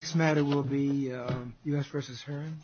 This matter will be U.S. v. Heron.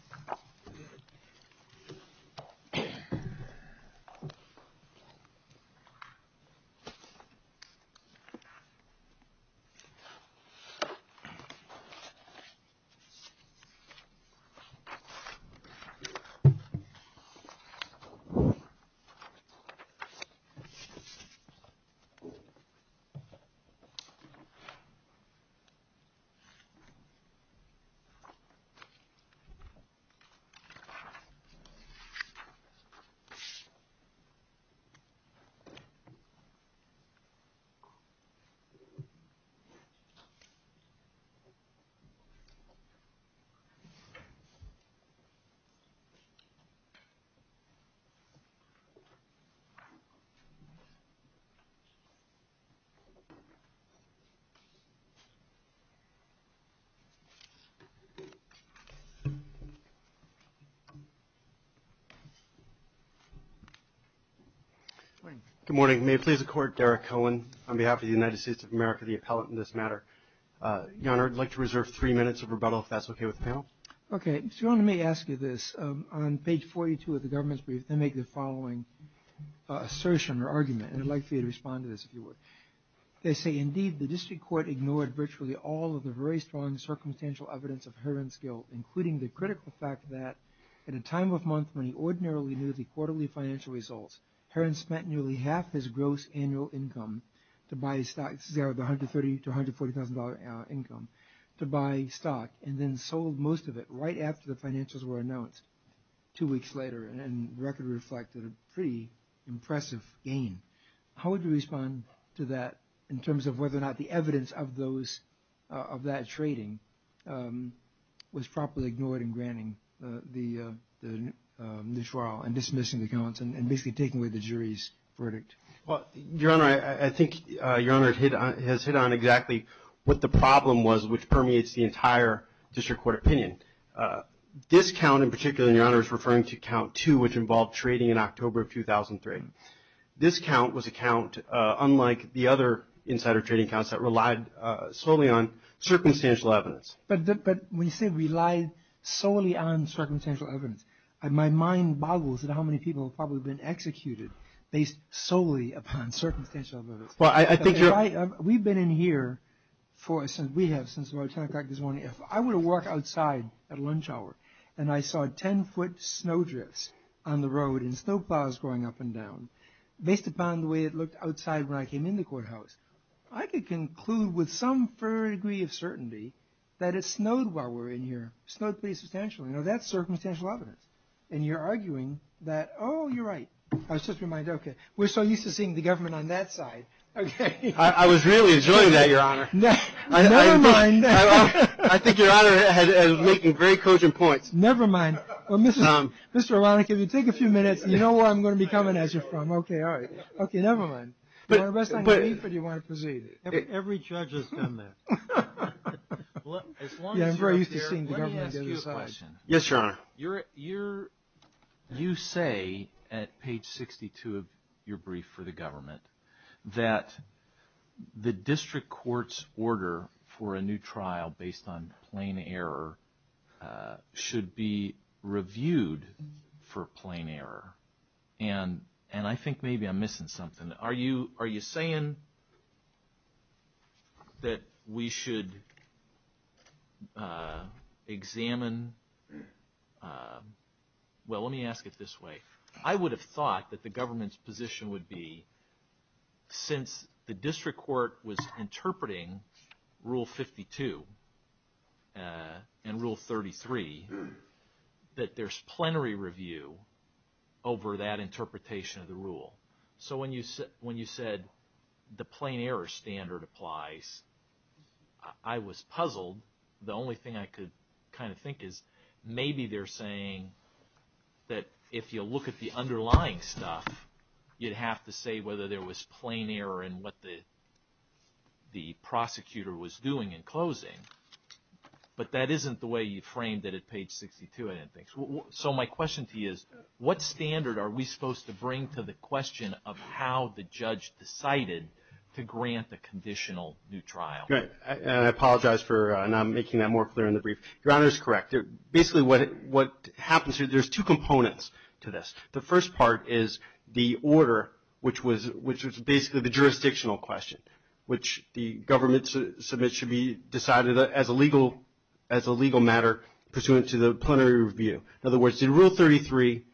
Good morning. May it please the Court, Derek Cohen on behalf of the United States of America, the appellate in this matter. Your Honor, I'd like to reserve three minutes of rebuttal if that's okay with the panel. Okay. So Your Honor, may I ask you this? On page 42 of the government's brief, they make the following assertion or argument, and I'd like for you to respond to this if you would. They say, indeed, the district court ignored virtually all of the very strong circumstantial evidence of Heron's guilt, including the critical fact that at a time of month when he ordinarily knew the quarterly financial results, Heron spent nearly half his gross annual income to buy stock, $130,000 to $140,000 income, to buy stock and then sold most of it right after the financials were announced two weeks later, and the record reflected a pretty impressive gain. How would you respond to that in terms of whether or not the evidence of that trading was properly ignored in granting the new trial and dismissing the counts and basically taking away the jury's verdict? Well, Your Honor, I think Your Honor has hit on exactly what the problem was which permeates the entire district court opinion. This count in particular, Your Honor, is referring to 2003. This count was a count unlike the other insider trading counts that relied solely on circumstantial evidence. But when you say relied solely on circumstantial evidence, my mind boggles at how many people have probably been executed based solely upon circumstantial evidence. Well, I think you're... We've been in here for, we have since about 10 o'clock this morning. If I were to walk outside at lunch hour and I saw 10-foot snow drifts on the road and snow plows going up and down, based upon the way it looked outside when I came in the courthouse, I could conclude with some fair degree of certainty that it snowed while we were in here. It snowed pretty substantially. Now, that's circumstantial evidence. And you're arguing that, oh, you're right. I was just reminded, okay, we're so used to seeing the government on that side. I was really enjoying that, Your Honor. Never mind. I think Your Honor is making very cogent points. Never mind. Mr. Aronik, if you take a few minutes, you know where I'm going to be coming as you're from. Okay, all right. Okay, never mind. Do you want to rest on your knees or do you want to proceed? Every judge has done that. Yeah, I'm very used to seeing the government on this side. Let me ask you a question. Yes, Your Honor. You say at page 62 of your brief for the government that the district court's order for a new trial based on plain error should be reviewed for plain error. And I think maybe I'm missing something. Are you saying that we should examine, well, let me ask it this way. I would have thought that the government's position would be since the district court was interpreting Rule 52 and Rule 33, that there's plenary review over that interpretation of the rule. So when you said the plain error standard applies, I was puzzled. The only thing I could kind of think is maybe they're saying that if you look at the underlying stuff, you'd have to say whether there was plain error in what the prosecutor was doing in closing. But that isn't the way you framed it at page 62, I didn't think. So my question to you is, what standard are we supposed to bring to the question of how the judge decided to grant the conditional new trial? Right. And I apologize for not making that more clear in the brief. Your Honor is correct. Basically what happens here, there's two components to this. The first part is the order, which was basically the jurisdictional question, which the government submits should be decided as a legal matter pursuant to the plenary review. In other words, did Rule 33,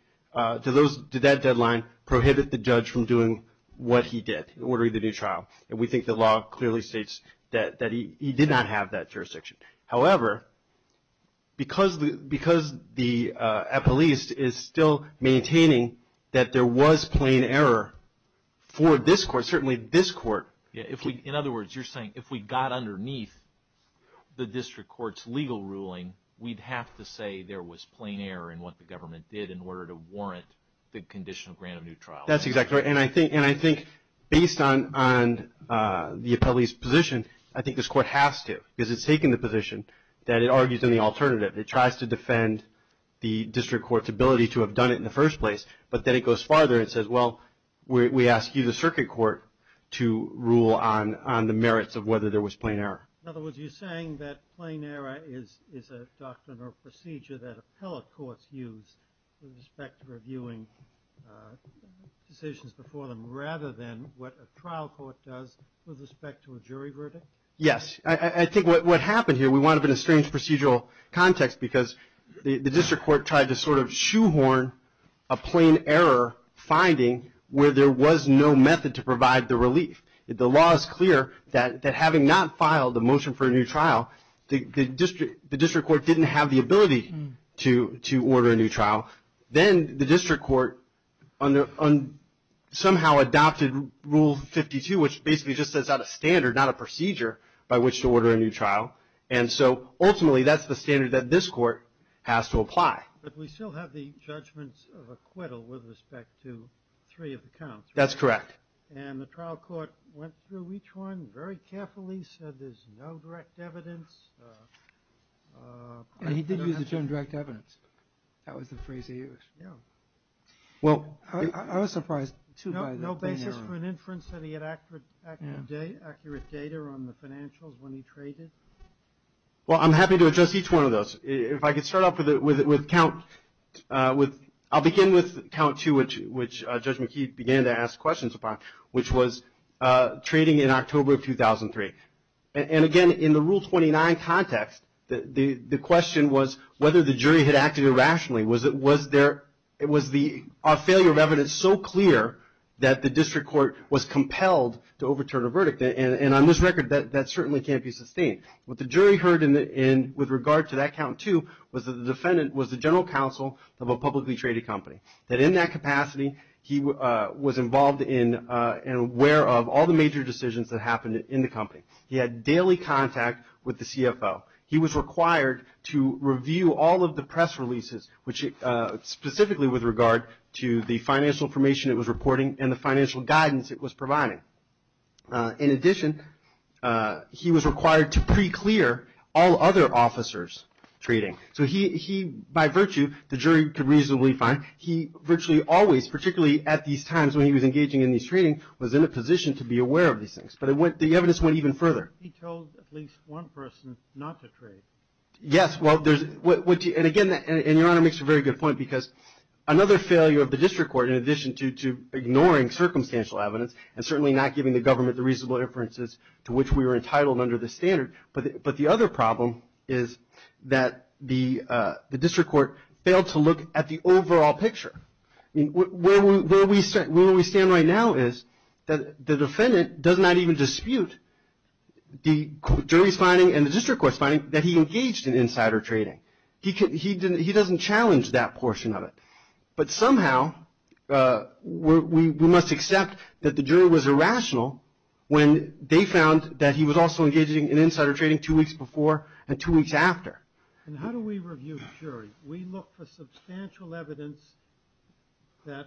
did that deadline prohibit the judge from doing what he did, ordering the new trial? And we think the law clearly states that he did not have that jurisdiction. However, because the appellees is still maintaining that there was plain error for this court, certainly this court. In other words, you're saying if we got underneath the district court's legal ruling, we'd have to say there was plain error in what the government did in order to warrant the conditional grant of new trial. That's exactly right. And I think based on the appellee's position, I think this court has to, because it's taken the position that it argues in the alternative. It tries to defend the district court's ability to have done it in the first place, but then it goes to the circuit court to rule on the merits of whether there was plain error. In other words, you're saying that plain error is a doctrinal procedure that appellate courts use with respect to reviewing decisions before them, rather than what a trial court does with respect to a jury verdict? Yes. I think what happened here, we wound up in a strange procedural context because the district court tried to sort of shoehorn a plain error finding where there was no method to provide the relief. The law is clear that having not filed the motion for a new trial, the district court didn't have the ability to order a new trial. Then the district court somehow adopted Rule 52, which basically just sets out a standard, not a procedure by which to order a new trial. Ultimately, that's the standard that this court has to apply. But we still have the judgments of acquittal with respect to three of the counts, right? That's correct. The trial court went through each one very carefully, said there's no direct evidence. He did use the term direct evidence. That was the phrase he used. Yeah. Well, I was surprised, too, by the plain error. Did he ask for an inference that he had accurate data on the financials when he traded? Well, I'm happy to address each one of those. If I could start off with count 2, which Judge McKee began to ask questions upon, which was trading in October of 2003. And again, in the Rule 29 context, the question was whether the jury had acted irrationally. Was our failure of evidence so clear that the district court was compelled to overturn a verdict? And on this record, that certainly can't be sustained. What the jury heard with regard to that count 2 was that the defendant was the general counsel of a publicly traded company. That in that capacity, he was involved in and aware of all the major decisions that happened in the company. He had daily contact with the CFO. He was required to review all of the press reports, the financial information it was reporting, and the financial guidance it was providing. In addition, he was required to pre-clear all other officers' trading. So he, by virtue, the jury could reasonably find, he virtually always, particularly at these times when he was engaging in these trading, was in a position to be aware of these things. But the evidence went even further. He told at least one person not to trade. Yes, well, there's, and again, and Your Honor makes a very good point, because another failure of the district court, in addition to ignoring circumstantial evidence and certainly not giving the government the reasonable inferences to which we were entitled under this standard, but the other problem is that the district court failed to look at the overall picture. Where we stand right now is that the defendant does not even dispute the jury's finding that he engaged in insider trading. He doesn't challenge that portion of it. But somehow we must accept that the jury was irrational when they found that he was also engaging in insider trading two weeks before and two weeks after. And how do we review the jury? We look for substantial evidence that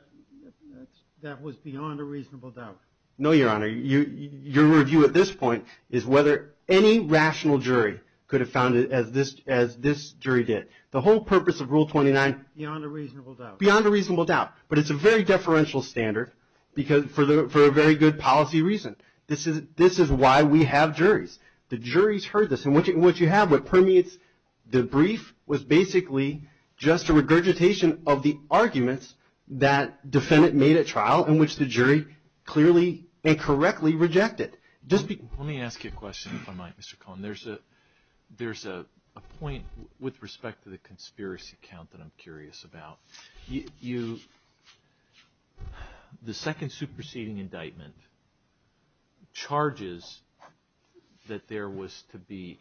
was beyond a reasonable doubt. No, Your Honor. Your review at this point is whether any rational jury could have found it as this jury did. The whole purpose of Rule 29... Beyond a reasonable doubt. Beyond a reasonable doubt. But it's a very deferential standard for a very good policy reason. This is why we have juries. The jury's heard this. And what you have, what permeates the brief was basically just a regurgitation of the arguments that defendant made at trial in which the jury clearly and correctly rejected. Let me ask you a question if I might, Mr. Cohen. There's a point with respect to the conspiracy count that I'm curious about. The second superseding indictment charges that there was to be,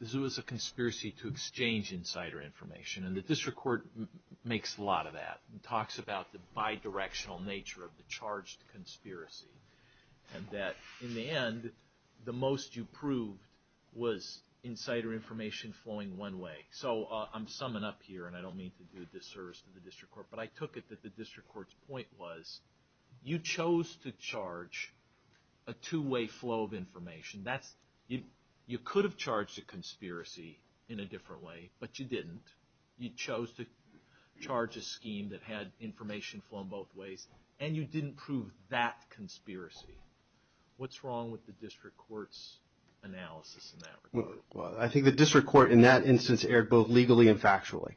this was a conspiracy to exchange insider information. And the district court makes a lot of that and talks about the bi-directional nature of the charged conspiracy. And that in the end, the most you proved was insider information flowing one way. So I'm summing up here, and I don't mean to do a disservice to the district court, but I took it that the district court's point was you chose to charge a two-way flow of information. You could have charged a conspiracy in a different way, but you didn't. You chose to charge a scheme that had information flowing both ways, and you didn't prove that conspiracy. What's wrong with the district court's analysis in that regard? Well, I think the district court in that instance erred both legally and factually.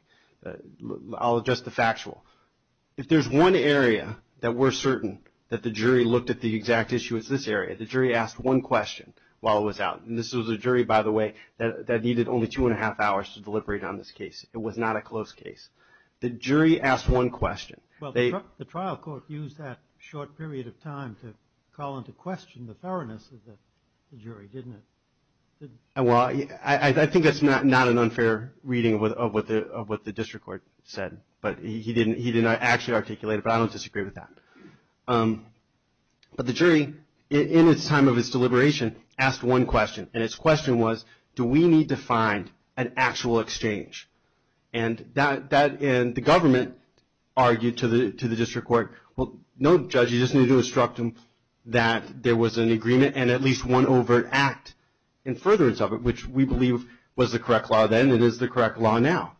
I'll address the factual. If there's one area that we're certain that the jury looked at the exact issue, it's this area. The jury asked one question while it was out. And this was a jury, by the way, that needed only two and a half hours to deliberate on this case. It was not a close case. The jury asked one question. Well, the trial court used that short period of time to call into question the thoroughness of the jury, didn't it? Well, I think that's not an unfair reading of what the district court said. But he didn't actually articulate it, but I don't disagree with that. But the jury, in its time of its deliberation, asked one question. And its question was, do we need to find an actual exchange? And the government argued to the district court, well, no, judge, you just need to instruct them that there was an agreement and at least one overt act in furtherance of it, which we believe was the correct law then and is the correct law now.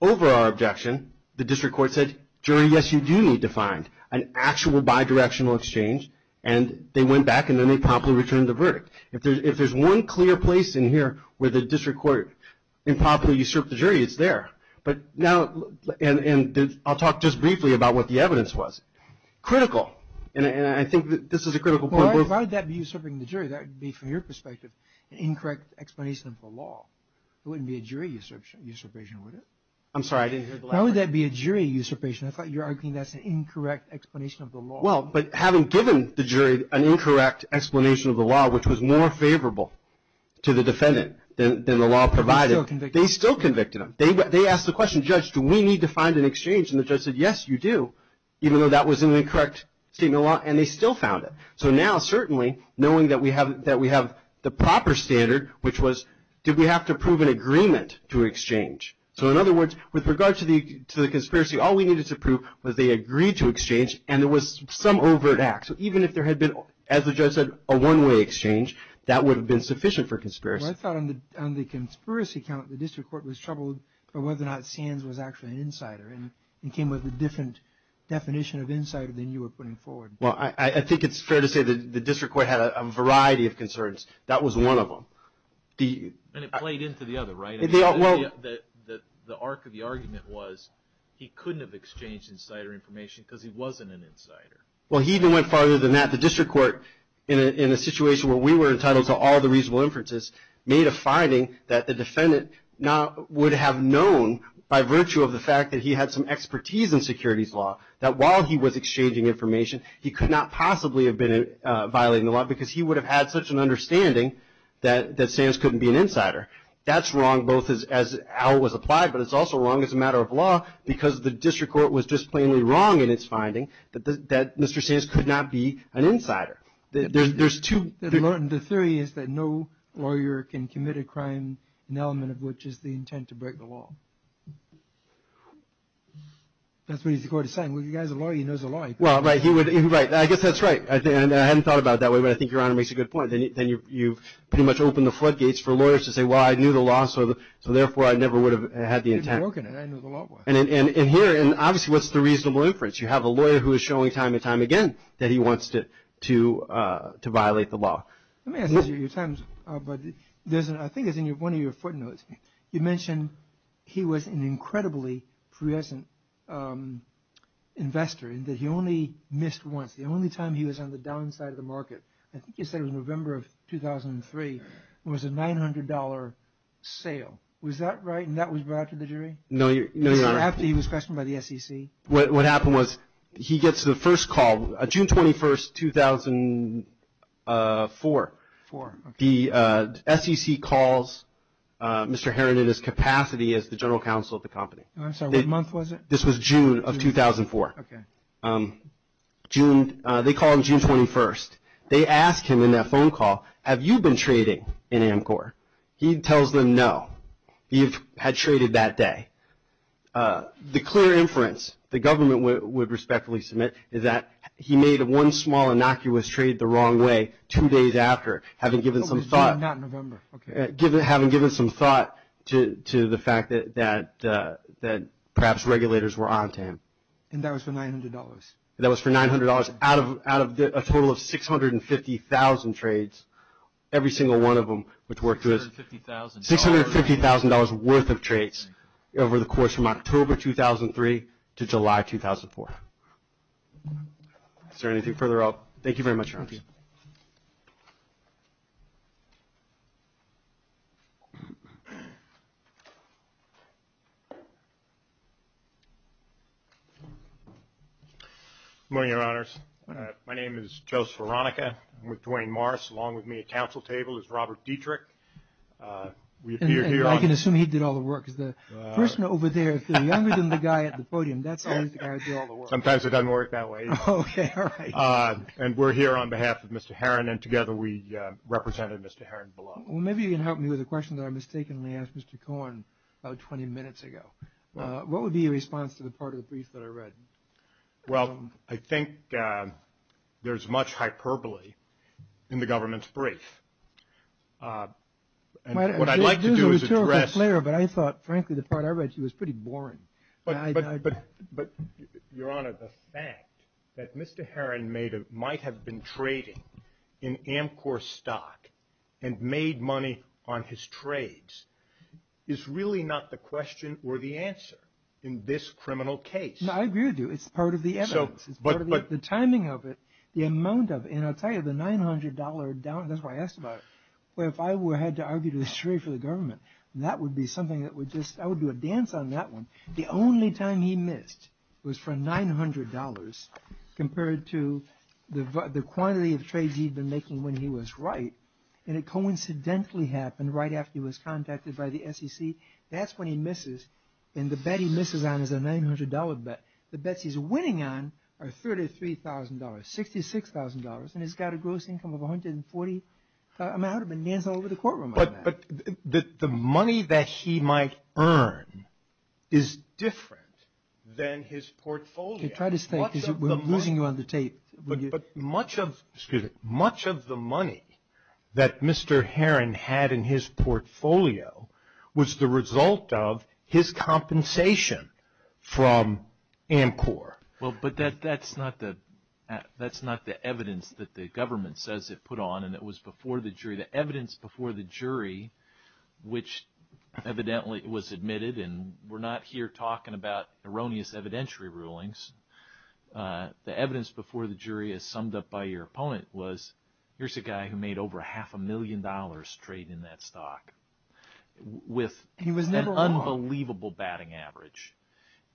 Over our objection, the district court said, jury, yes, you do need to find an actual bidirectional exchange. And they went back and then they promptly returned the verdict. If there's one clear place in here where the district court improperly usurped the jury, it's there. But now, and I'll talk just briefly about what the evidence was. Critical, and I think this is a critical point. Well, why would that be usurping the jury? That would be, from your perspective, an incorrect explanation of the law. It wouldn't be a jury usurpation, would it? I'm sorry, I didn't hear the last part. Why would that be a jury usurpation? I thought you were arguing that's an incorrect explanation of the law. Well, but having given the jury an incorrect explanation of the law, which was more favorable to the defendant than the law provided. They still convicted him. They still convicted him. They asked the question, judge, do we need to find an exchange? And the judge said, yes, you do, even though that was an incorrect statement of the law, and they still found it. So now, certainly, knowing that we have the proper standard, which was, did we have to prove an agreement to exchange? So, in other words, with regard to the conspiracy, all we needed to prove was they agreed to exchange, and there was some overt act. So even if there had been, as the judge said, a one-way exchange, that would have been sufficient for conspiracy. Well, I thought on the conspiracy count, the district court was troubled by whether or not Sands was actually an insider and came up with a different definition of insider than you were putting forward. Well, I think it's fair to say the district court had a variety of concerns. That was one of them. And it played into the other, right? The arc of the argument was he couldn't have exchanged insider information because he wasn't an insider. Well, he even went farther than that. The district court, in a situation where we were entitled to all the reasonable inferences, made a finding that the defendant would have known, by virtue of the fact that he had some expertise in securities law, that while he was exchanging information, he could not possibly have been violating the law because he would have had such an understanding that Sands couldn't be an insider, both as how it was applied, but it's also wrong as a matter of law because the district court was just plainly wrong in its finding that Mr. Sands could not be an insider. The theory is that no lawyer can commit a crime, an element of which is the intent to break the law. That's what the court is saying. Well, you guys are lawyers. He knows the law. Well, right. I guess that's right. I hadn't thought about it that way, but I think Your Honor makes a good point. You've pretty much opened the floodgates for lawyers to say, well, I knew the law, so therefore, I never would have had the intent. You've broken it. I knew the law. And here, obviously, what's the reasonable inference? You have a lawyer who is showing time and time again that he wants to violate the law. Let me ask you, but I think it's in one of your footnotes. You mentioned he was an incredibly fluorescent investor and that he only missed once. The only time he was on the downside of the market. I think you said it was November of 2003. It was a $900 sale. Was that right? And that was brought to the jury? No, Your Honor. After he was questioned by the SEC? What happened was he gets the first call, June 21st, 2004. Four. The SEC calls Mr. Heron in his capacity as the general counsel of the company. I'm sorry, what month was it? This was June of 2004. Okay. They call him June 21st. They ask him in that phone call, have you been trading in Amcor? He tells them no. He had traded that day. The clear inference the government would respectfully submit is that he made one small, innocuous trade the wrong way two days after, having given some thought to the fact that perhaps regulators were on to him. And that was for $900? That was for $900 out of a total of 650,000 trades, every single one of them, which worked to a $650,000 worth of trades over the course from October 2003 to July 2004. Is there anything further up? Thank you very much, Your Honor. Thank you. Good morning, Your Honors. My name is Joseph Veronica. I'm with Duane Morris. Along with me at counsel table is Robert Dietrich. I can assume he did all the work. Because the person over there, the younger guy at the podium, that's always the guy who did all the work. Sometimes it doesn't work that way. Okay. All right. And we're here on behalf of Mr. Heron, and together we represented Mr. Heron below. Well, maybe you can help me with a question that I mistakenly asked Mr. Cohen about 20 minutes ago. What would be your response to the part of the brief that I read? Well, I think there's much hyperbole in the government's brief. What I'd like to do is address. But I thought, frankly, the part I read to you was pretty boring. But, Your Honor, the fact that Mr. Heron might have been trading in Amcor stock and made money on his trades is really not the question or the answer in this criminal case. No, I agree with you. It's part of the evidence. It's part of the timing of it, the amount of it. And I'll tell you, the $900 down, that's why I asked about it. Well, if I had to argue to the straight for the government, that would be something that would just, I would do a dance on that one. The only time he missed was for $900 compared to the quantity of trades he'd been making when he was right. And it coincidentally happened right after he was contacted by the SEC. That's when he misses. And the bet he misses on is a $900 bet. The bets he's winning on are $33,000, $66,000. And he's got a gross income of $140,000. I mean, I would have been dancing all over the courtroom on that. But the money that he might earn is different than his portfolio. Try to think. We're losing you on the tape. But much of the money that Mr. Heron had in his portfolio was the result of his compensation from Amcor. Well, but that's not the evidence that the government says it put on, and it was before the jury. The evidence before the jury, which evidently was admitted, and we're not here talking about erroneous evidentiary rulings. The evidence before the jury, as summed up by your opponent, was here's a guy who made over half a million dollars straight in that stock with an unbelievable batting average.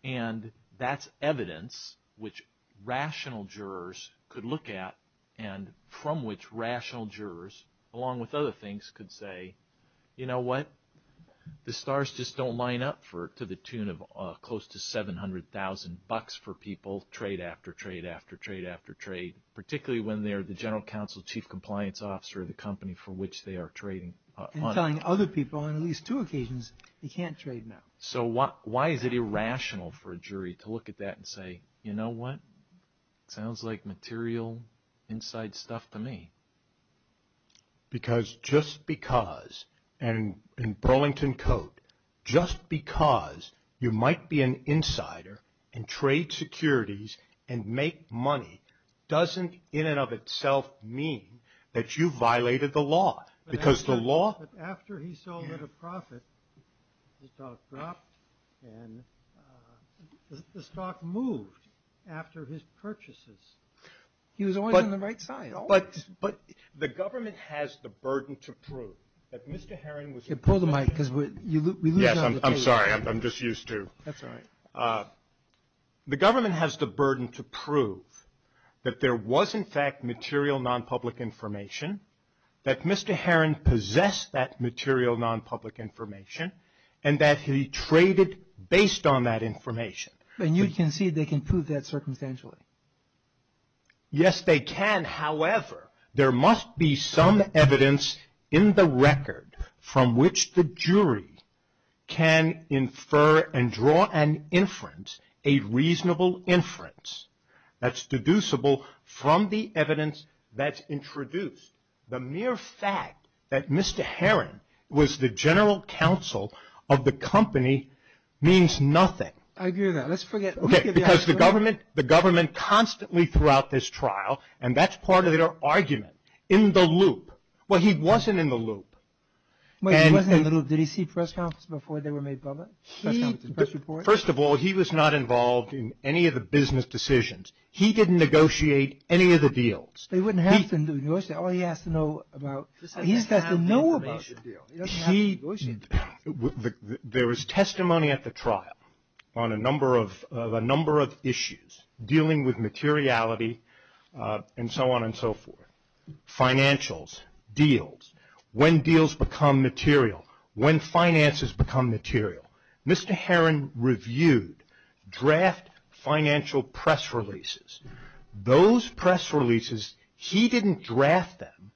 And that's evidence which rational jurors could look at, and from which rational jurors, along with other things, could say, you know what? The stars just don't line up to the tune of close to $700,000 for people trade after trade after trade after trade. Particularly when they're the general counsel, chief compliance officer of the company for which they are trading. And telling other people on at least two occasions, you can't trade now. So why is it irrational for a jury to look at that and say, you know what? Sounds like material inside stuff to me. Because just because, and in Burlington Code, just because you might be an insider and trade securities and make money doesn't in and of itself mean that you violated the law. But after he sold at a profit, the stock dropped, and the stock moved after his purchases. He was always on the right side. But the government has the burden to prove that Mr. Heron was in fact material non-public information. That Mr. Heron possessed that material non-public information, and that he traded based on that information. And you concede they can prove that circumstantially? Yes, they can. However, there must be some evidence in the record from which the jury can infer and draw an inference, a reasonable inference, that's deducible from the evidence that's introduced. The mere fact that Mr. Heron was the general counsel of the company means nothing. I agree with that. Okay, because the government constantly throughout this trial, and that's part of their argument, in the loop. Well, he wasn't in the loop. He wasn't in the loop. Did he see press conference before they were made public? First of all, he was not involved in any of the business decisions. He didn't negotiate any of the deals. They wouldn't have to negotiate. All he has to know about, he's got to know about the deal. There was testimony at the trial on a number of issues dealing with materiality and so on and so forth. Financials, deals, when deals become material, when finances become material. Mr. Heron reviewed draft financial press releases. Those press releases, he didn't draft them.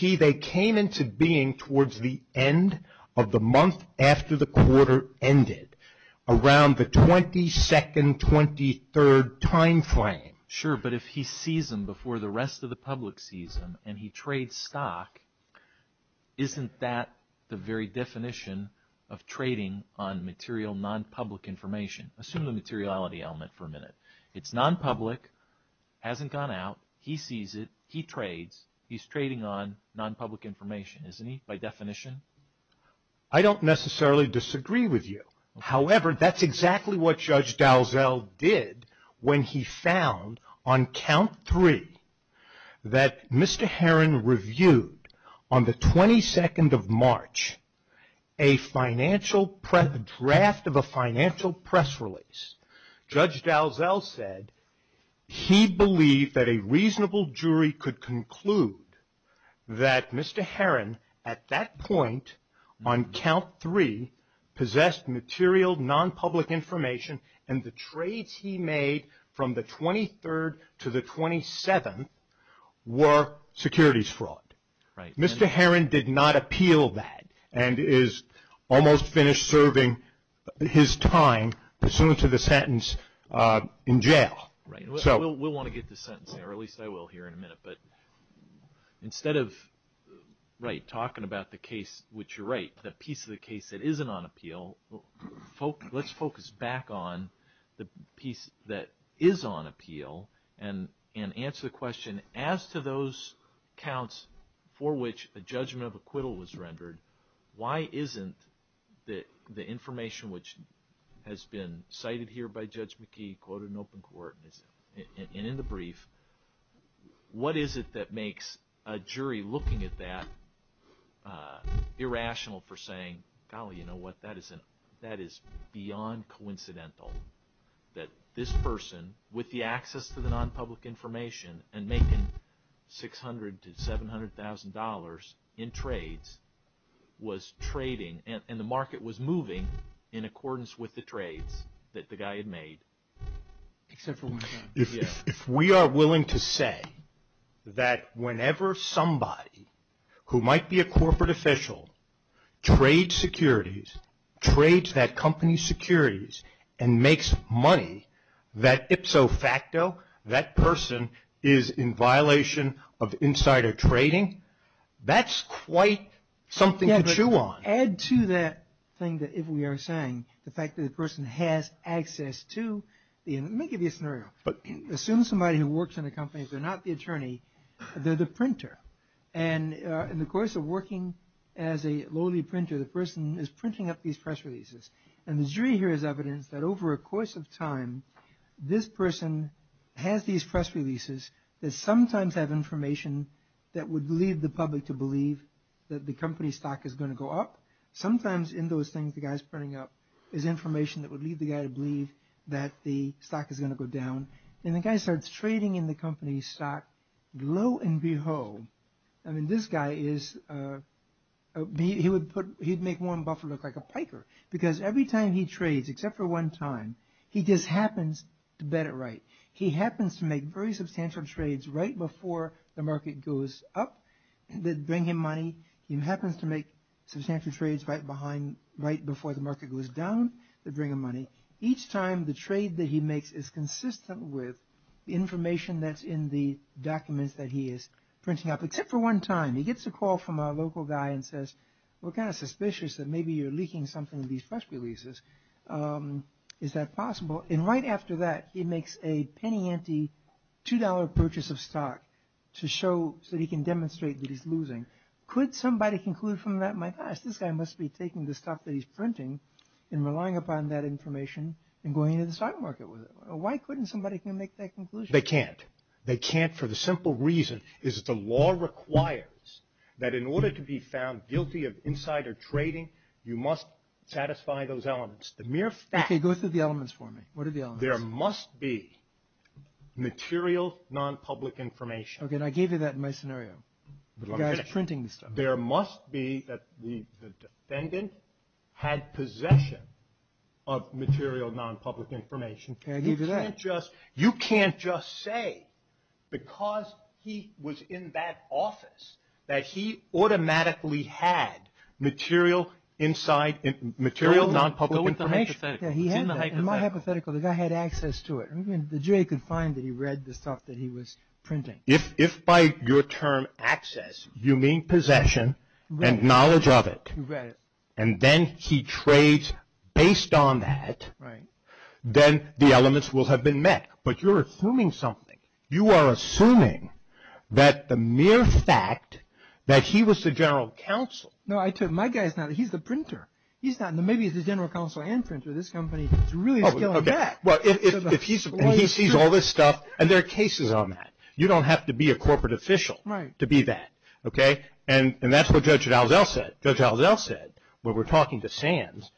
They came into being towards the end of the month after the quarter ended, around the 22nd, 23rd time frame. Sure, but if he sees them before the rest of the public sees them and he trades stock, isn't that the very definition of trading on material, non-public information? Assume the materiality element for a minute. It's non-public, hasn't gone out. He sees it. He trades. He's trading on non-public information, isn't he, by definition? I don't necessarily disagree with you. However, that's exactly what Judge Dalzell did when he found on count three that Mr. Heron reviewed, on the 22nd of March, a draft of a financial press release. Judge Dalzell said he believed that a reasonable jury could conclude that Mr. Heron, at that point on count three, possessed material, non-public information, and the trades he made from the 23rd to the 27th were securities fraud. Mr. Heron did not appeal that and is almost finished serving his time pursuant to the sentence in jail. We'll want to get to sentencing, or at least I will here in a minute. But instead of talking about the case, which you're right, the piece of the case that isn't on appeal, let's focus back on the piece that is on appeal and answer the question, as to those counts for which a judgment of acquittal was rendered, why isn't the information which has been cited here by Judge McKee, quoted in open court and in the brief, what is it that makes a jury looking at that irrational for saying, golly, you know what, that is beyond coincidental, that this person, with the access to the non-public information, and making $600,000 to $700,000 in trades, was trading and the market was moving in accordance with the trades that the guy had made. If we are willing to say that whenever somebody who might be a corporate official, trades securities, trades that company's securities and makes money, that ipso facto, that person is in violation of insider trading, that's quite something to chew on. To add to that thing that if we are saying, the fact that the person has access to, let me give you a scenario, assume somebody who works in a company, they're not the attorney, they're the printer, and in the course of working as a lowly printer, the person is printing up these press releases, and the jury here has evidence that over a course of time, this person has these press releases that sometimes have information that would lead the public to believe that the company's stock is going to go up, sometimes in those things the guy is printing up, is information that would lead the guy to believe that the stock is going to go down, and the guy starts trading in the company's stock, lo and behold, this guy would make Warren Buffett look like a piker, because every time he trades, except for one time, he just happens to bet it right. He happens to make very substantial trades right before the market goes up, that bring him money. He happens to make substantial trades right before the market goes down, that bring him money. Each time the trade that he makes is consistent with information that's in the documents that he is printing up, except for one time. He gets a call from a local guy and says, we're kind of suspicious that maybe you're leaking something in these press releases. Is that possible? And right after that, he makes a penny-ante, $2 purchase of stock, so he can demonstrate that he's losing. Could somebody conclude from that, my gosh, this guy must be taking the stuff that he's printing and relying upon that information and going into the stock market with it. Why couldn't somebody make that conclusion? They can't. They can't for the simple reason that the law requires that in order to be found guilty of insider trading, you must satisfy those elements. The mere fact— Okay, go through the elements for me. What are the elements? There must be material non-public information. Okay, and I gave you that in my scenario. The guy's printing the stuff. There must be that the defendant had possession of material non-public information. Okay, I gave you that. You can't just say because he was in that office that he automatically had material non-public information. No, it's in the hypothetical. It's in the hypothetical. In my hypothetical, the guy had access to it. The jury could find that he read the stuff that he was printing. If by your term, access, you mean possession and knowledge of it, and then he trades based on that, then the elements will have been met. But you're assuming something. You are assuming that the mere fact that he was the general counsel— No, my guy's not. He's the printer. He's not. Maybe he's the general counsel and printer. This company really is going back. Well, if he sees all this stuff, and there are cases on that, you don't have to be a corporate official to be that, okay? And that's what Judge Alzel said. Judge Alzel said when we were talking to Sands.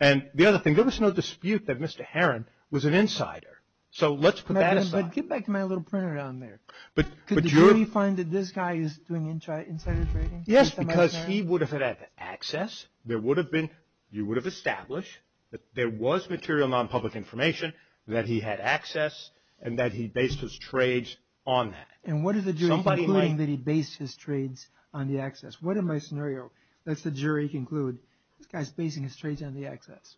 And the other thing, there was no dispute that Mr. Herron was an insider. So let's put that aside. But get back to my little printer down there. Could the jury find that this guy is doing insider trading? Yes, because he would have had access. You would have established that there was material, non-public information, that he had access, and that he based his trades on that. And what if the jury is concluding that he based his trades on the access? What if my scenario, let's the jury conclude, this guy's basing his trades on the access.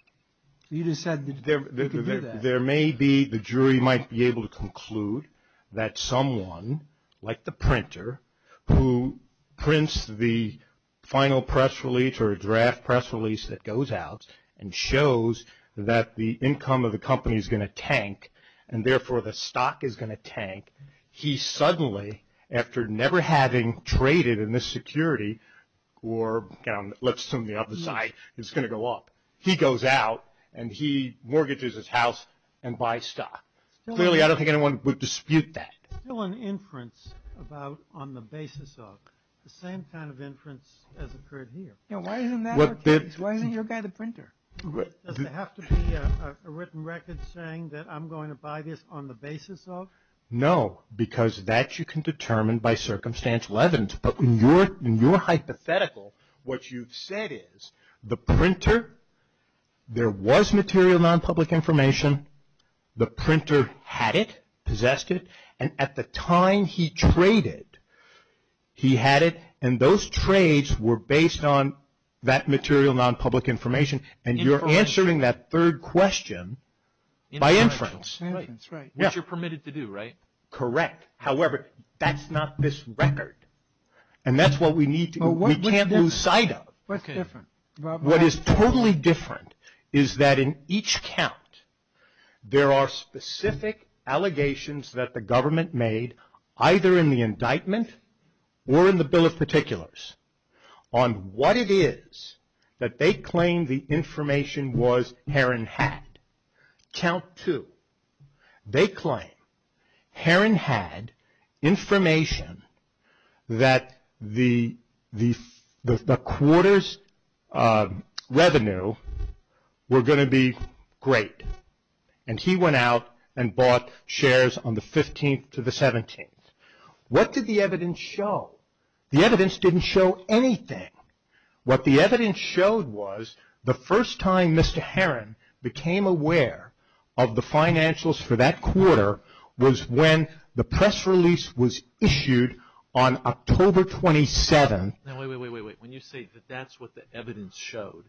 You just said that you could do that. There may be, the jury might be able to conclude that someone, like the printer, who prints the final press release or draft press release that goes out and shows that the income of the company is going to tank, and therefore the stock is going to tank. He suddenly, after never having traded in this security, or let's assume the other side, is going to go up. He goes out and he mortgages his house and buys stock. Clearly, I don't think anyone would dispute that. Still an inference about on the basis of. The same kind of inference has occurred here. Why isn't that the case? Why isn't your guy the printer? Does it have to be a written record saying that I'm going to buy this on the basis of? No, because that you can determine by circumstantial evidence. But in your hypothetical, what you've said is the printer, there was material nonpublic information. The printer had it, possessed it. And at the time he traded, he had it. And those trades were based on that material nonpublic information. And you're answering that third question by inference. That's right. Which you're permitted to do, right? Correct. However, that's not this record. And that's what we need to, we can't lose sight of. What's different? What is totally different is that in each count, there are specific allegations that the government made, either in the indictment or in the Bill of Particulars, on what it is that they claim the information was Herron had. Count two. They claim Herron had information that the quarters revenue were going to be great. And he went out and bought shares on the 15th to the 17th. What did the evidence show? The evidence didn't show anything. What the evidence showed was the first time Mr. Herron became aware of the financials for that quarter was when the press release was issued on October 27th. Now, wait, wait, wait, wait, wait. When you say that that's what the evidence showed,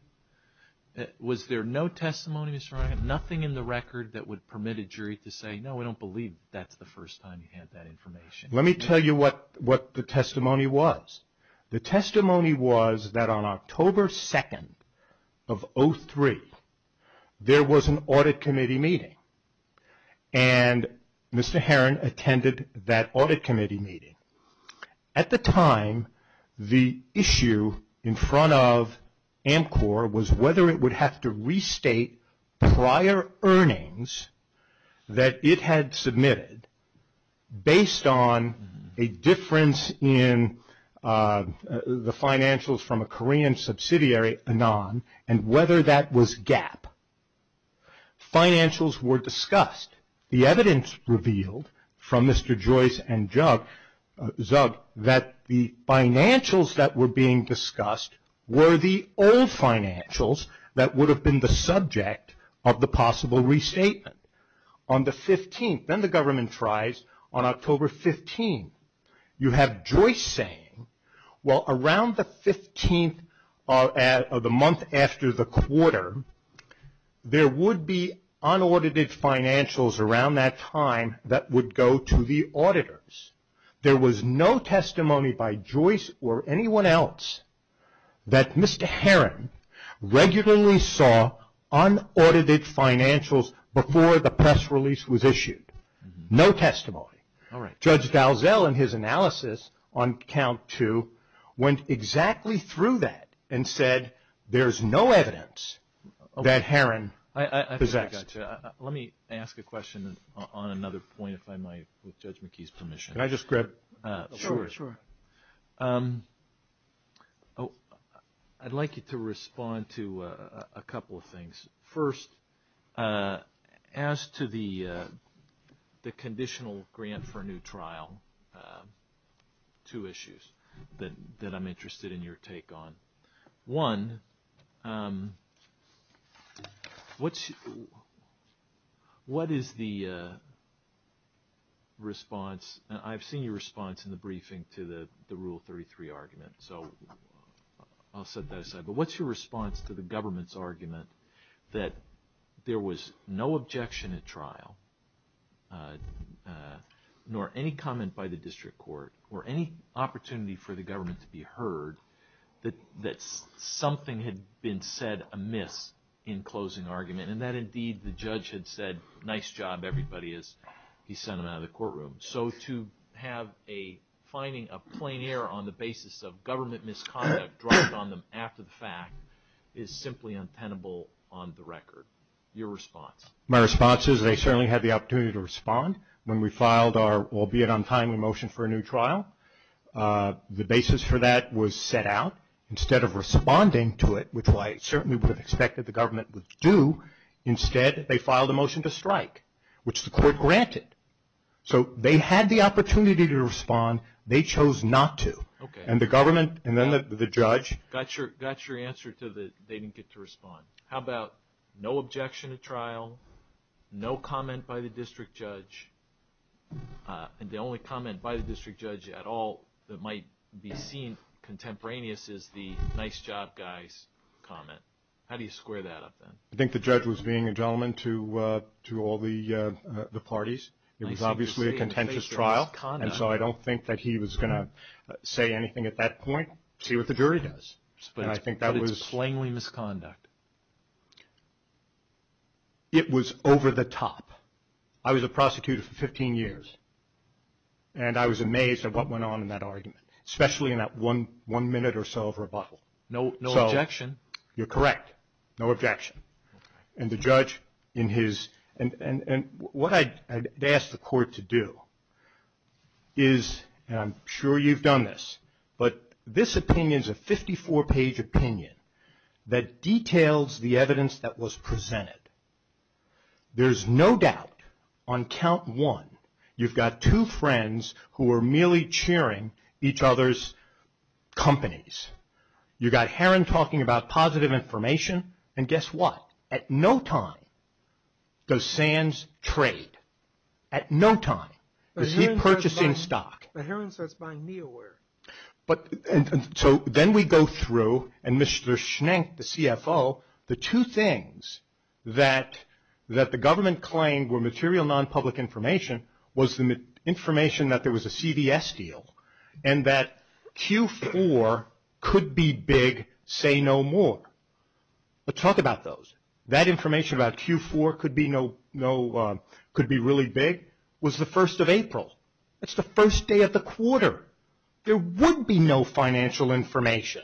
was there no testimony, Mr. Ryan, nothing in the record that would permit a jury to say, no, we don't believe that's the first time he had that information? Let me tell you what the testimony was. The testimony was that on October 2nd of 2003, there was an audit committee meeting, and Mr. Herron attended that audit committee meeting. At the time, the issue in front of Amcor was whether it would have to restate prior earnings that it had submitted based on a difference in the financials from a Korean subsidiary, Anon, and whether that was GAAP. Financials were discussed. The evidence revealed from Mr. Joyce and Zuck that the financials that were being discussed were the old financials that would have been the subject of the possible restatement. On the 15th, then the government tries, on October 15th, you have Joyce saying, well, around the 15th of the month after the quarter, there would be unaudited financials around that time that would go to the auditors. There was no testimony by Joyce or anyone else that Mr. Herron regularly saw unaudited financials before the press release was issued. No testimony. Judge Galzel, in his analysis on count two, went exactly through that and said, there's no evidence that Herron possessed. I think I got you. Let me ask a question on another point, if I might, with Judge McKee's permission. Can I just grab the floor? I'd like you to respond to a couple of things. First, as to the conditional grant for a new trial, two issues that I'm interested in your take on. One, I've seen your response in the briefing to the Rule 33 argument, so I'll set that aside. But what's your response to the government's argument that there was no objection at trial, nor any comment by the district court, or any opportunity for the government to be heard, that something had been said amiss in closing argument, and that indeed the judge had said, nice job, everybody, as he sent them out of the courtroom. So to have a finding of plain error on the basis of government misconduct dropped on them after the fact is simply untenable on the record. Your response? My response is they certainly had the opportunity to respond when we filed our, albeit untimely, motion for a new trial. The basis for that was set out. Instead of responding to it, which I certainly would have expected the government would do, instead they filed a motion to strike, which the court granted. So they had the opportunity to respond. They chose not to. And the government and then the judge. Got your answer to the they didn't get to respond. How about no objection at trial, no comment by the district judge, and the only comment by the district judge at all that might be seen contemporaneous is the nice job, guys, comment. How do you square that up then? I think the judge was being a gentleman to all the parties. It was obviously a contentious trial. And so I don't think that he was going to say anything at that point, see what the jury does. But it's plainly misconduct. It was over the top. I was a prosecutor for 15 years. And I was amazed at what went on in that argument, especially in that one minute or so of rebuttal. No objection. You're correct. No objection. And the judge in his, and what I'd ask the court to do is, and I'm sure you've done this, but this opinion is a 54-page opinion that details the evidence that was presented. There's no doubt on count one, you've got two friends who are merely cheering each other's companies. You've got Heron talking about positive information. And guess what? At no time does Sands trade. At no time is he purchasing stock. But Heron starts buying Neoware. So then we go through and Mr. Schenck, the CFO, the two things that the government claimed were material non-public information was the information that there was a CVS deal and that Q4 could be big, say no more. But talk about those. That information about Q4 could be really big was the first of April. That's the first day of the quarter. There would be no financial information.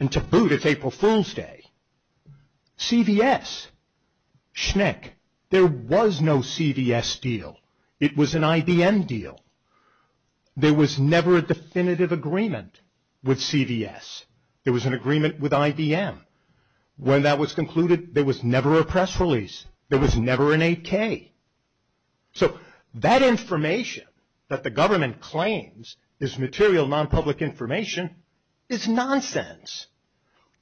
And to boot, it's April Fool's Day. CVS, Schenck, there was no CVS deal. It was an IBM deal. There was never a definitive agreement with CVS. There was an agreement with IBM. When that was concluded, there was never a press release. There was never an 8K. So that information that the government claims is material non-public information is nonsense.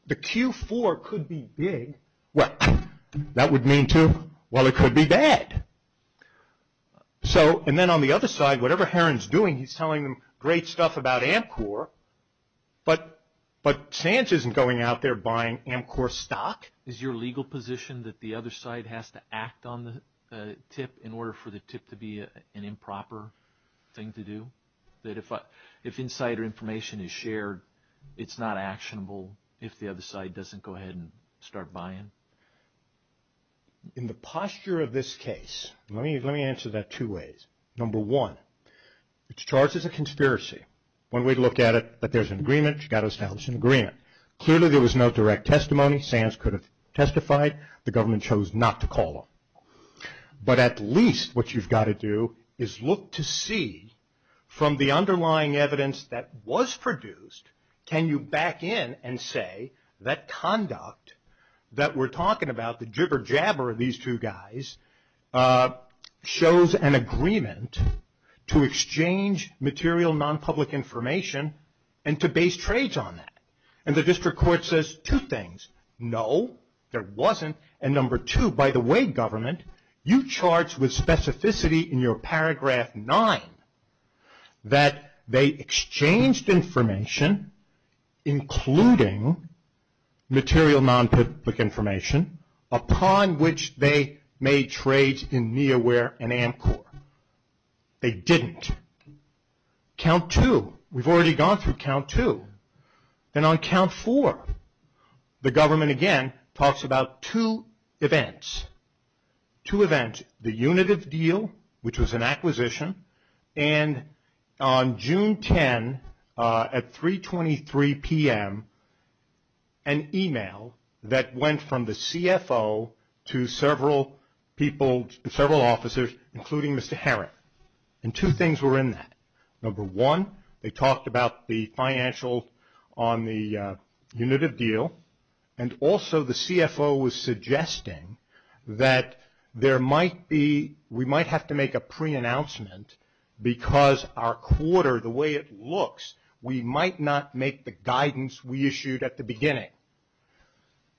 The Q4 could be big. Well, that would mean, too, well, it could be bad. So and then on the other side, whatever Heron's doing, he's telling them great stuff about Amcor. But Sanchez isn't going out there buying Amcor stock. Is your legal position that the other side has to act on the tip in order for the tip to be an improper thing to do? That if insider information is shared, it's not actionable if the other side doesn't go ahead and start buying? In the posture of this case, let me answer that two ways. Number one, it's charged as a conspiracy. One way to look at it, but there's an agreement. You've got to establish an agreement. Clearly, there was no direct testimony. SANS could have testified. The government chose not to call them. But at least what you've got to do is look to see from the underlying evidence that was produced, can you back in and say that conduct that we're talking about, the jibber-jabber of these two guys, shows an agreement to exchange material non-public information and to base trades on that. And the district court says two things. No, there wasn't. And number two, by the way, government, you charged with specificity in your paragraph nine that they exchanged information, including material non-public information, upon which they made trades in NIOWARE and ANCOR. They didn't. Count two. We've already gone through count two. And on count four, the government, again, talks about two events. Two events, the UNITIV deal, which was an acquisition, and on June 10 at 3.23 p.m., an email that went from the CFO to several people, several officers, including Mr. Herrick. And two things were in that. Number one, they talked about the financial on the UNITIV deal, and also the CFO was suggesting that we might have to make a pre-announcement because our quarter, the way it looks, we might not make the guidance we issued at the beginning.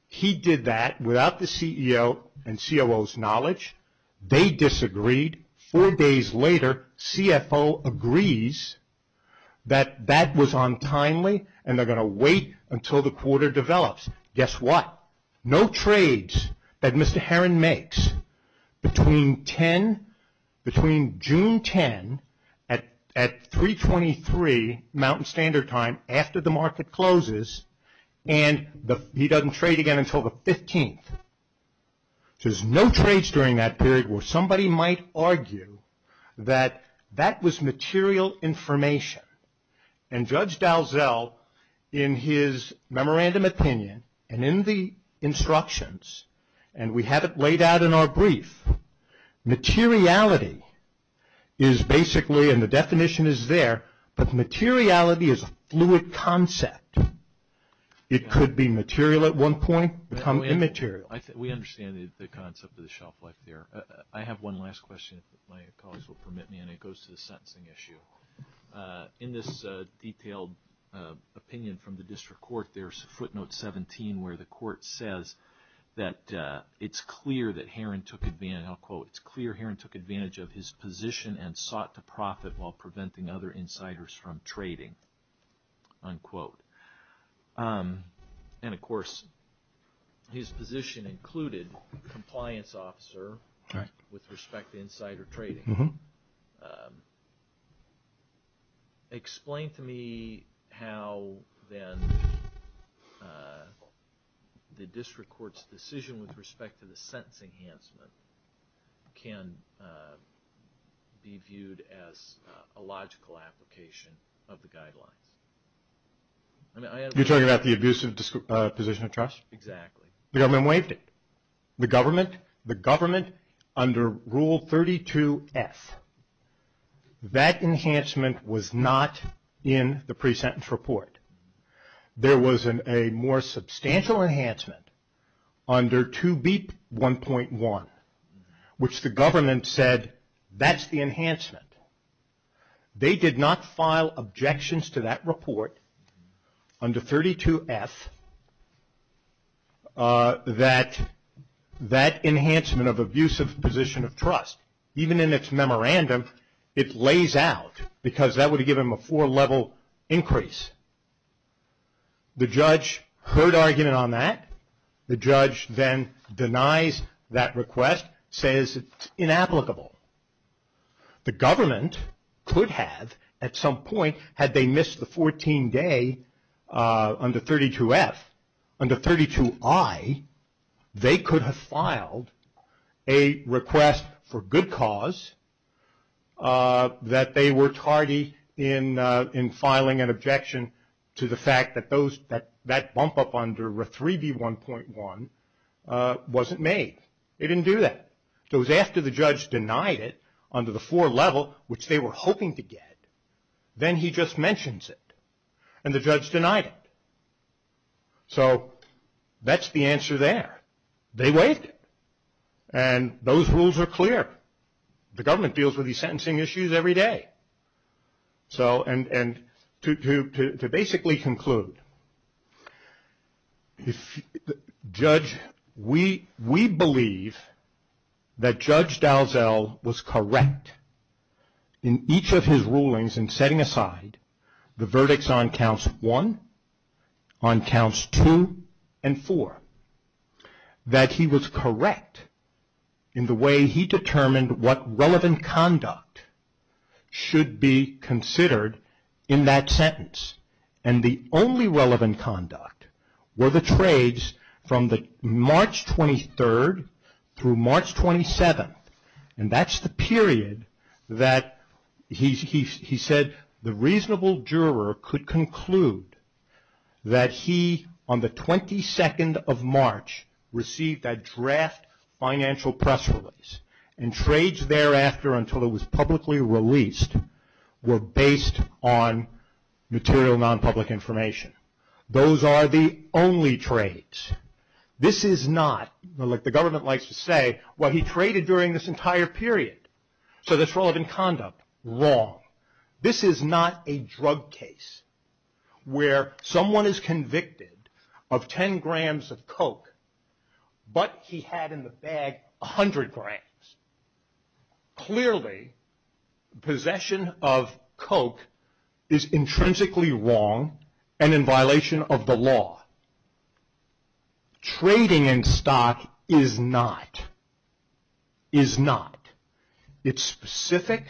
He did that without the CEO and COO's knowledge. They disagreed. Four days later, CFO agrees that that was untimely, and they're going to wait until the quarter develops. Guess what? No trades that Mr. Herrin makes between June 10 at 3.23, Mountain Standard Time, after the market closes, and he doesn't trade again until the 15th. So there's no trades during that period where somebody might argue that that was material information. And Judge Dalzell, in his memorandum opinion, and in the instructions, and we have it laid out in our brief, materiality is basically, and the definition is there, but materiality is a fluid concept. It could be material at one point, become immaterial. We understand the concept of the shelf life there. I have one last question, if my colleagues will permit me, and it goes to the sentencing issue. In this detailed opinion from the district court, there's footnote 17, where the court says that it's clear that Herrin took advantage of his position and sought to profit while preventing other insiders from trading, unquote. And, of course, his position included compliance officer with respect to insider trading. Explain to me how, then, the district court's decision with respect to the sentencing enhancement can be viewed as a logical application of the guidelines. You're talking about the abusive position of trust? Exactly. The government waived it. The government, under Rule 32F, that enhancement was not in the pre-sentence report. There was a more substantial enhancement under 2B.1.1, which the government said, that's the enhancement. They did not file objections to that report under 32F that that enhancement of abusive position of trust, even in its memorandum, it lays out, because that would have given them a four-level increase. The judge heard argument on that. The judge then denies that request, says it's inapplicable. The government could have, at some point, had they missed the 14-day under 32F, under 32I, they could have filed a request for good cause that they were tardy in filing an objection to the fact that that bump up under 3B.1.1 wasn't made. They didn't do that. It was after the judge denied it under the four-level, which they were hoping to get, then he just mentions it, and the judge denied it. So that's the answer there. They waived it, and those rules are clear. The government deals with these sentencing issues every day. And to basically conclude, we believe that Judge Dalzell was correct in each of his rulings in setting aside the verdicts on counts two and four, that he was correct in the way he determined what relevant conduct should be considered in that sentence. And the only relevant conduct were the trades from March 23rd through March 27th. And that's the period that he said the reasonable juror could conclude that he, on the 22nd of March, received that draft financial press release. And trades thereafter, until it was publicly released, were based on material non-public information. Those are the only trades. This is not, like the government likes to say, what he traded during this entire period. So that's relevant conduct. Wrong. This is not a drug case where someone is convicted of 10 grams of Coke, but he had in the bag 100 grams. Clearly, possession of Coke is intrinsically wrong and in violation of the law. Trading in stock is not. Is not. It's specific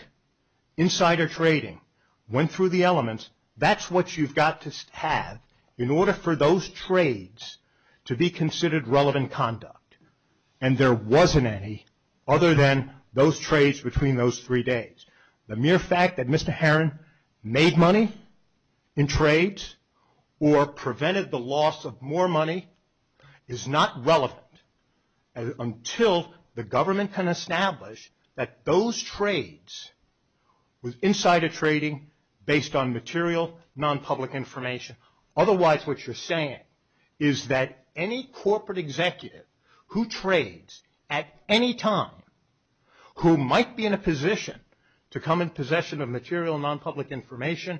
insider trading. Went through the elements. That's what you've got to have in order for those trades to be considered relevant conduct. And there wasn't any other than those trades between those three days. The mere fact that Mr. Heron made money in trades or prevented the loss of more money is not relevant until the government can establish that those trades were insider trading based on material non-public information. Otherwise, what you're saying is that any corporate executive who trades at any time who might be in a position to come in possession of material non-public information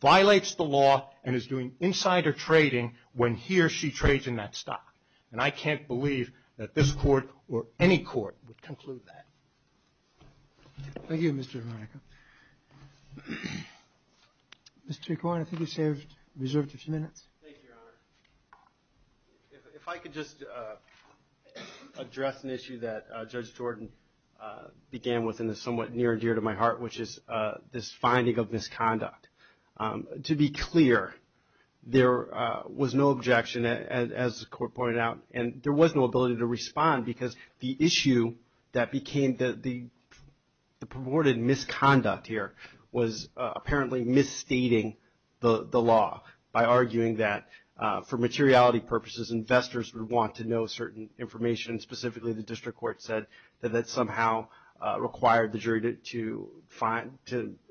violates the law and is doing insider trading when he or she trades in that stock. And I can't believe that this court or any court would conclude that. Thank you, Mr. Heron. Mr. Corwin, I think you've reserved a few minutes. Thank you, Your Honor. If I could just address an issue that Judge Jordan began with and is somewhat near and dear to my heart, which is this finding of misconduct. To be clear, there was no objection, as the court pointed out, and there was no ability to respond because the issue that became the promoted misconduct here was apparently misstating the law by arguing that for materiality purposes, investors would want to know certain information. Specifically, the district court said that that somehow required the jury to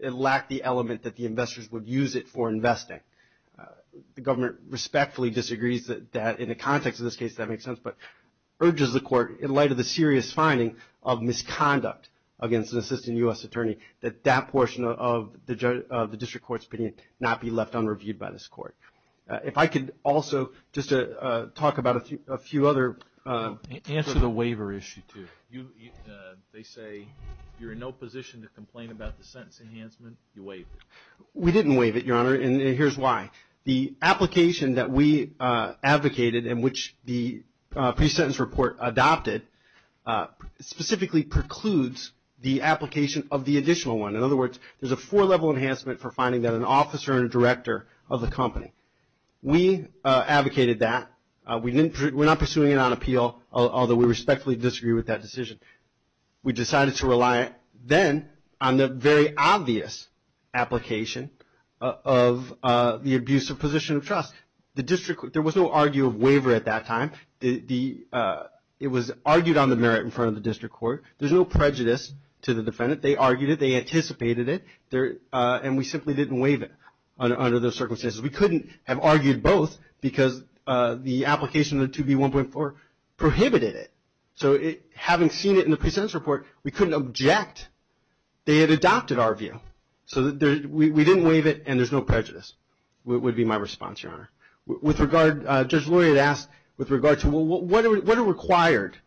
lack the element that the investors would use it for investing. The government respectfully disagrees that in the context of this case, that makes sense, but urges the court, in light of the serious finding of misconduct against an assistant U.S. attorney, that that portion of the district court's opinion not be left unreviewed by this court. If I could also just talk about a few other. Answer the waiver issue, too. They say you're in no position to complain about the sentence enhancement. You waived it. We didn't waive it, Your Honor, and here's why. The application that we advocated and which the pre-sentence report adopted specifically precludes the application of the additional one. In other words, there's a four-level enhancement for finding that an officer and a director of the company. We advocated that. We're not pursuing it on appeal, although we respectfully disagree with that decision. We decided to rely then on the very obvious application of the abusive position of trust. There was no argue of waiver at that time. It was argued on the merit in front of the district court. There's no prejudice to the defendant. They argued it. They anticipated it, and we simply didn't waive it under those circumstances. We couldn't have argued both because the application of the 2B1.4 prohibited it. So having seen it in the pre-sentence report, we couldn't object. They had adopted our view. So we didn't waive it, and there's no prejudice would be my response, Your Honor. Judge Lurie had asked with regard to what are required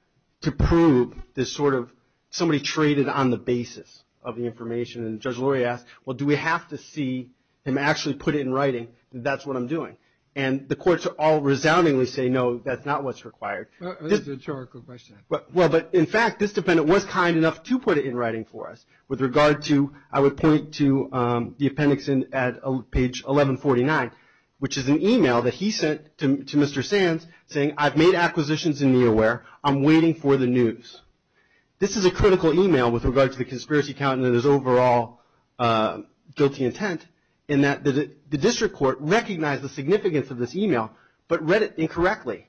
to prove this sort of somebody traded on the basis of the information, and Judge Lurie asked, well, do we have to see him actually put it in writing that that's what I'm doing? And the courts all resoundingly say, no, that's not what's required. That's a rhetorical question. Well, but in fact, this defendant was kind enough to put it in writing for us. With regard to, I would point to the appendix at page 1149, which is an e-mail that he sent to Mr. Sands saying, I've made acquisitions in Neoware. I'm waiting for the news. This is a critical e-mail with regard to the conspiracy count and his overall guilty intent, in that the district court recognized the significance of this e-mail but read it incorrectly.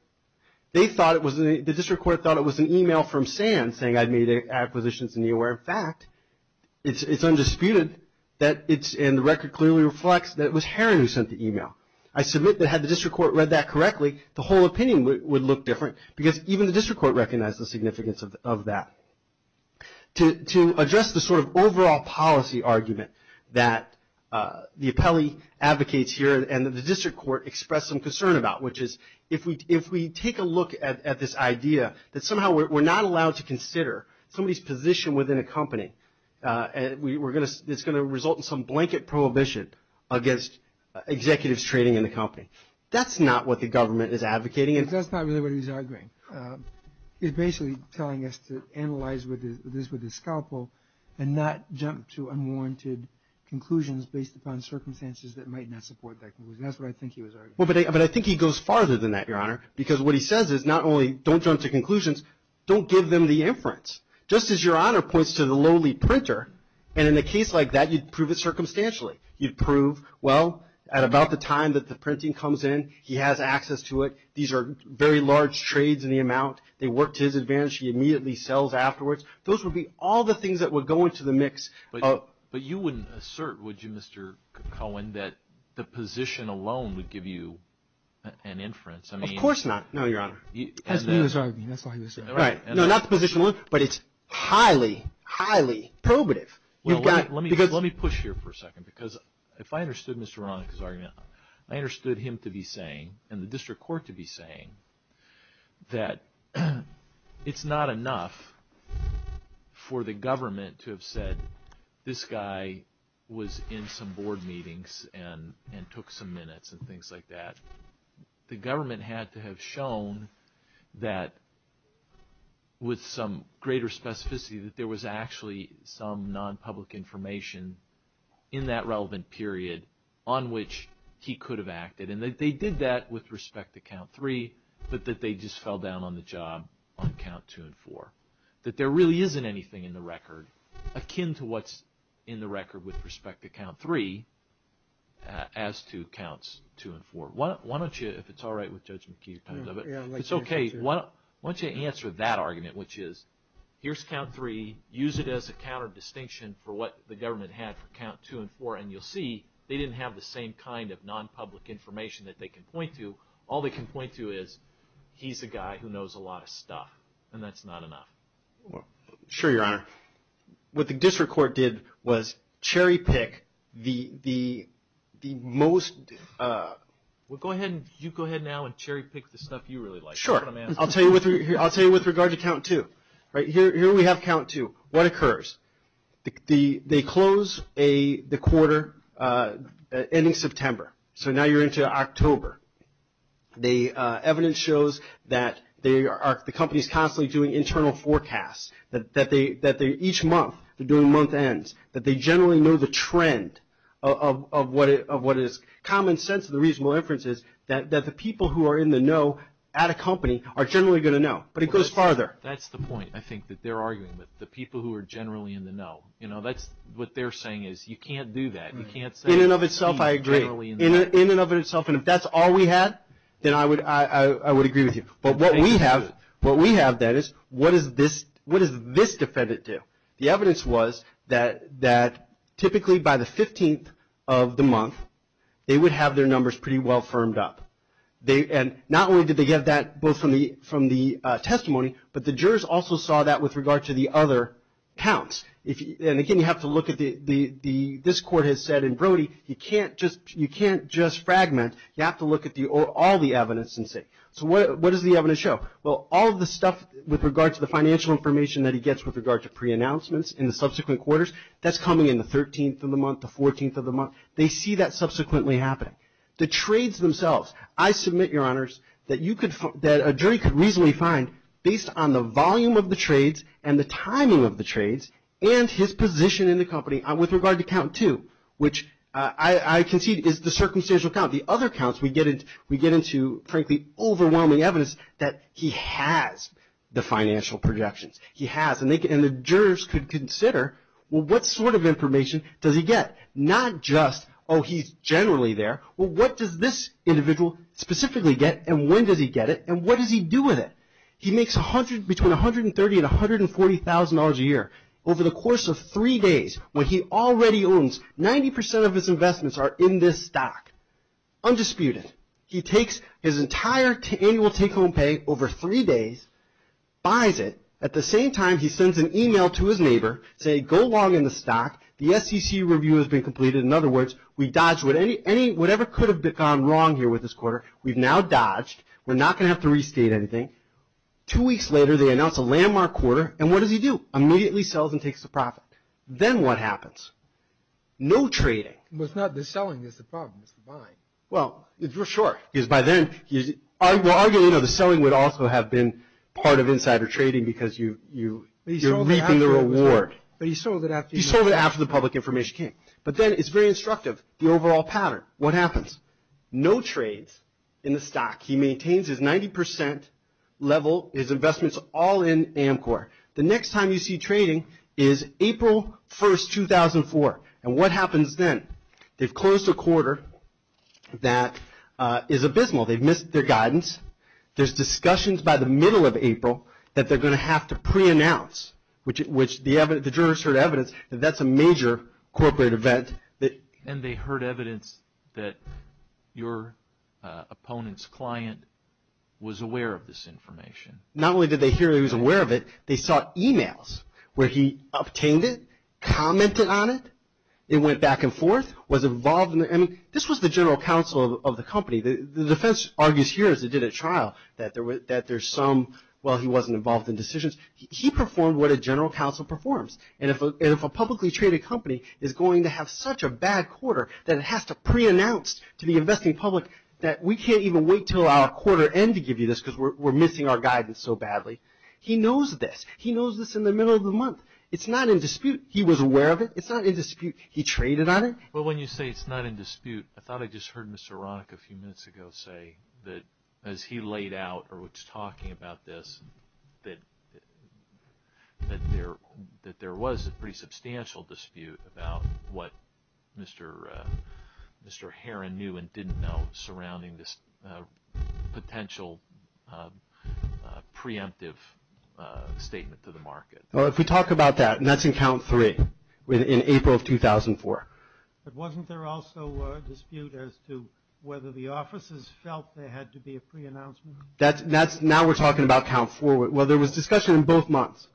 The district court thought it was an e-mail from Sands saying, I've made acquisitions in Neoware. In fact, it's undisputed and the record clearly reflects that it was Heron who sent the e-mail. I submit that had the district court read that correctly, the whole opinion would look different, because even the district court recognized the significance of that. To address the sort of overall policy argument that the appellee advocates here and that the district court expressed some concern about, which is if we take a look at this idea that somehow we're not allowed to consider somebody's position within a company, it's going to result in some blanket prohibition against executives trading in the company. That's not what the government is advocating. That's not really what he's arguing. He's basically telling us to analyze this with a scalpel and not jump to unwarranted conclusions based upon circumstances that might not support that conclusion. That's what I think he was arguing. But I think he goes farther than that, Your Honor, because what he says is not only don't jump to conclusions, don't give them the inference. Just as Your Honor points to the lowly printer, and in a case like that, you'd prove it circumstantially. You'd prove, well, at about the time that the printing comes in, he has access to it. These are very large trades in the amount. They work to his advantage. He immediately sells afterwards. Those would be all the things that would go into the mix. But you wouldn't assert, would you, Mr. Cohen, that the position alone would give you an inference? Of course not. No, Your Honor. That's what he was arguing. Right. No, not the position alone, but it's highly, highly probative. Let me push here for a second because if I understood Mr. Ronick's argument, I understood him to be saying, and the district court to be saying, that it's not enough for the government to have said, this guy was in some board meetings and took some minutes and things like that. The government had to have shown that with some greater specificity that there was actually some non-public information in that relevant period on which he could have acted. And that they did that with respect to Count 3, but that they just fell down on the job on Count 2 and 4. That there really isn't anything in the record akin to what's in the record with respect to Count 3 as to Counts 2 and 4. Why don't you, if it's all right with Judge McKee, it's okay, why don't you answer that argument, which is, here's Count 3, use it as a counter distinction for what the government had for Count 2 and 4, and you'll see they didn't have the same kind of non-public information that they can point to. All they can point to is, he's a guy who knows a lot of stuff, and that's not enough. Sure, Your Honor. What the district court did was cherry pick the most... Well, go ahead now and cherry pick the stuff you really like. Sure. I'll tell you with regard to Count 2. Here we have Count 2. What occurs? They close the quarter ending September. So now you're into October. The evidence shows that the company is constantly doing internal forecasts, that each month they're doing month ends, that they generally know the trend of what is common sense of the reasonable inferences, that the people who are in the know at a company are generally going to know. But it goes farther. That's the point, I think, that they're arguing with, the people who are generally in the know. You know, what they're saying is you can't do that. You can't say... In and of itself, I agree. In and of itself, and if that's all we had, then I would agree with you. But what we have, that is, what does this defendant do? The evidence was that typically by the 15th of the month, they would have their numbers pretty well firmed up. And not only did they get that both from the testimony, but the jurors also saw that with regard to the other counts. And again, you have to look at the... This court has said in Brody, you can't just fragment. You have to look at all the evidence and see. So what does the evidence show? Well, all of the stuff with regard to the financial information that he gets with regard to preannouncements in the subsequent quarters, that's coming in the 13th of the month, the 14th of the month. They see that subsequently happening. The trades themselves. I submit, Your Honors, that a jury could reasonably find, based on the volume of the trades and the timing of the trades and his position in the company with regard to count two, which I concede is the circumstantial count. The other counts, we get into, frankly, overwhelming evidence that he has the financial projections. He has. And the jurors could consider, well, what sort of information does he get? Not just, oh, he's generally there. Well, what does this individual specifically get, and when does he get it, and what does he do with it? He makes between $130,000 and $140,000 a year. Over the course of three days, what he already owns, 90% of his investments are in this stock. Undisputed. He takes his entire annual take-home pay over three days, buys it. At the same time, he sends an email to his neighbor saying, go log in the stock. The SEC review has been completed. In other words, we dodged whatever could have gone wrong here with this quarter. We've now dodged. We're not going to have to restate anything. Two weeks later, they announce a landmark quarter, and what does he do? Immediately sells and takes the profit. Then what happens? No trading. But it's not the selling that's the problem. It's the buying. Well, for sure, because by then, we're arguing, you know, the selling would also have been part of insider trading because you're reaping the reward. But he sold it after the public information came. But then it's very instructive, the overall pattern. What happens? No trades in the stock. He maintains his 90% level, his investments all in Amcor. The next time you see trading is April 1, 2004, and what happens then? They've closed a quarter that is abysmal. They've missed their guidance. There's discussions by the middle of April that they're going to have to preannounce, which the jurors heard evidence that that's a major corporate event. And they heard evidence that your opponent's client was aware of this information. Not only did they hear he was aware of it, they saw e-mails where he obtained it, commented on it. It went back and forth, was involved in it. I mean, this was the general counsel of the company. The defense argues here, as it did at trial, that there's some, well, he wasn't involved in decisions. He performed what a general counsel performs. And if a publicly traded company is going to have such a bad quarter, then it has to preannounce to the investing public that we can't even wait until our quarter end to give you this because we're missing our guidance so badly. He knows this. He knows this in the middle of the month. It's not in dispute. He was aware of it. It's not in dispute. He traded on it. Well, when you say it's not in dispute, I thought I just heard Mr. Ronick a few minutes ago say that as he laid out or was talking about this, that there was a pretty substantial dispute about what Mr. Herrin knew and didn't know surrounding this potential preemptive statement to the market. Well, if we talk about that, and that's in count three, in April of 2004. But wasn't there also a dispute as to whether the offices felt there had to be a preannouncement? Now we're talking about count four. Well, there was discussion in both months.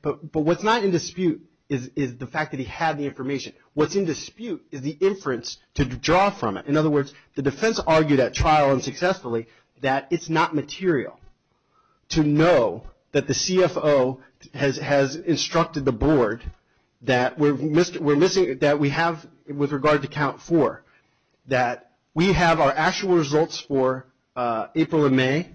But what's not in dispute is the fact that he had the information. What's in dispute is the inference to draw from it. In other words, the defense argued at trial and successfully that it's not material to know that the CFO has instructed the board that we have, with regard to count four, that we have our actual results for April and May.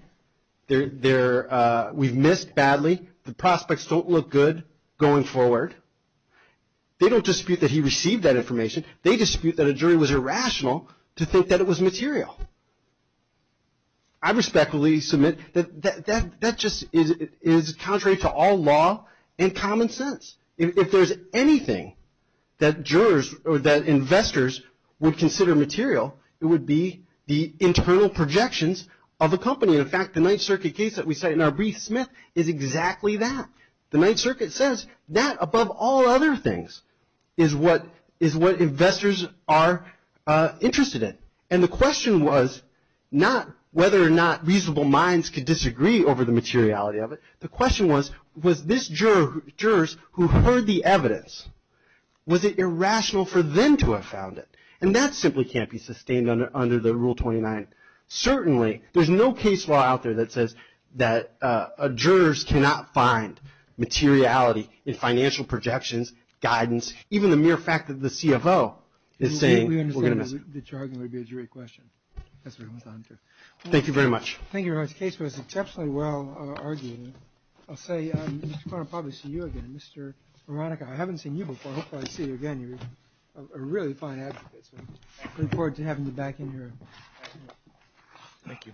We've missed badly. The prospects don't look good going forward. They don't dispute that he received that information. They dispute that a jury was irrational to think that it was material. I respectfully submit that that just is contrary to all law and common sense. If there's anything that jurors or that investors would consider material, it would be the internal projections of a company. In fact, the Ninth Circuit case that we cite in our brief, Smith, is exactly that. The Ninth Circuit says that, above all other things, is what investors are interested in. And the question was not whether or not reasonable minds could disagree over the materiality of it. The question was, was this jurors who heard the evidence, was it irrational for them to have found it? And that simply can't be sustained under the Rule 29. Certainly, there's no case law out there that says that jurors cannot find materiality in financial projections, guidance, even the mere fact that the CFO is saying we're going to miss it. We understand that your argument would be a jury question. Thank you very much. I think your case was exceptionally well argued. I'll say I'm going to probably see you again, Mr. Veronica. I haven't seen you before. Hopefully, I'll see you again. You're a really fine advocate. We look forward to having you back in here. Thank you. Thank you.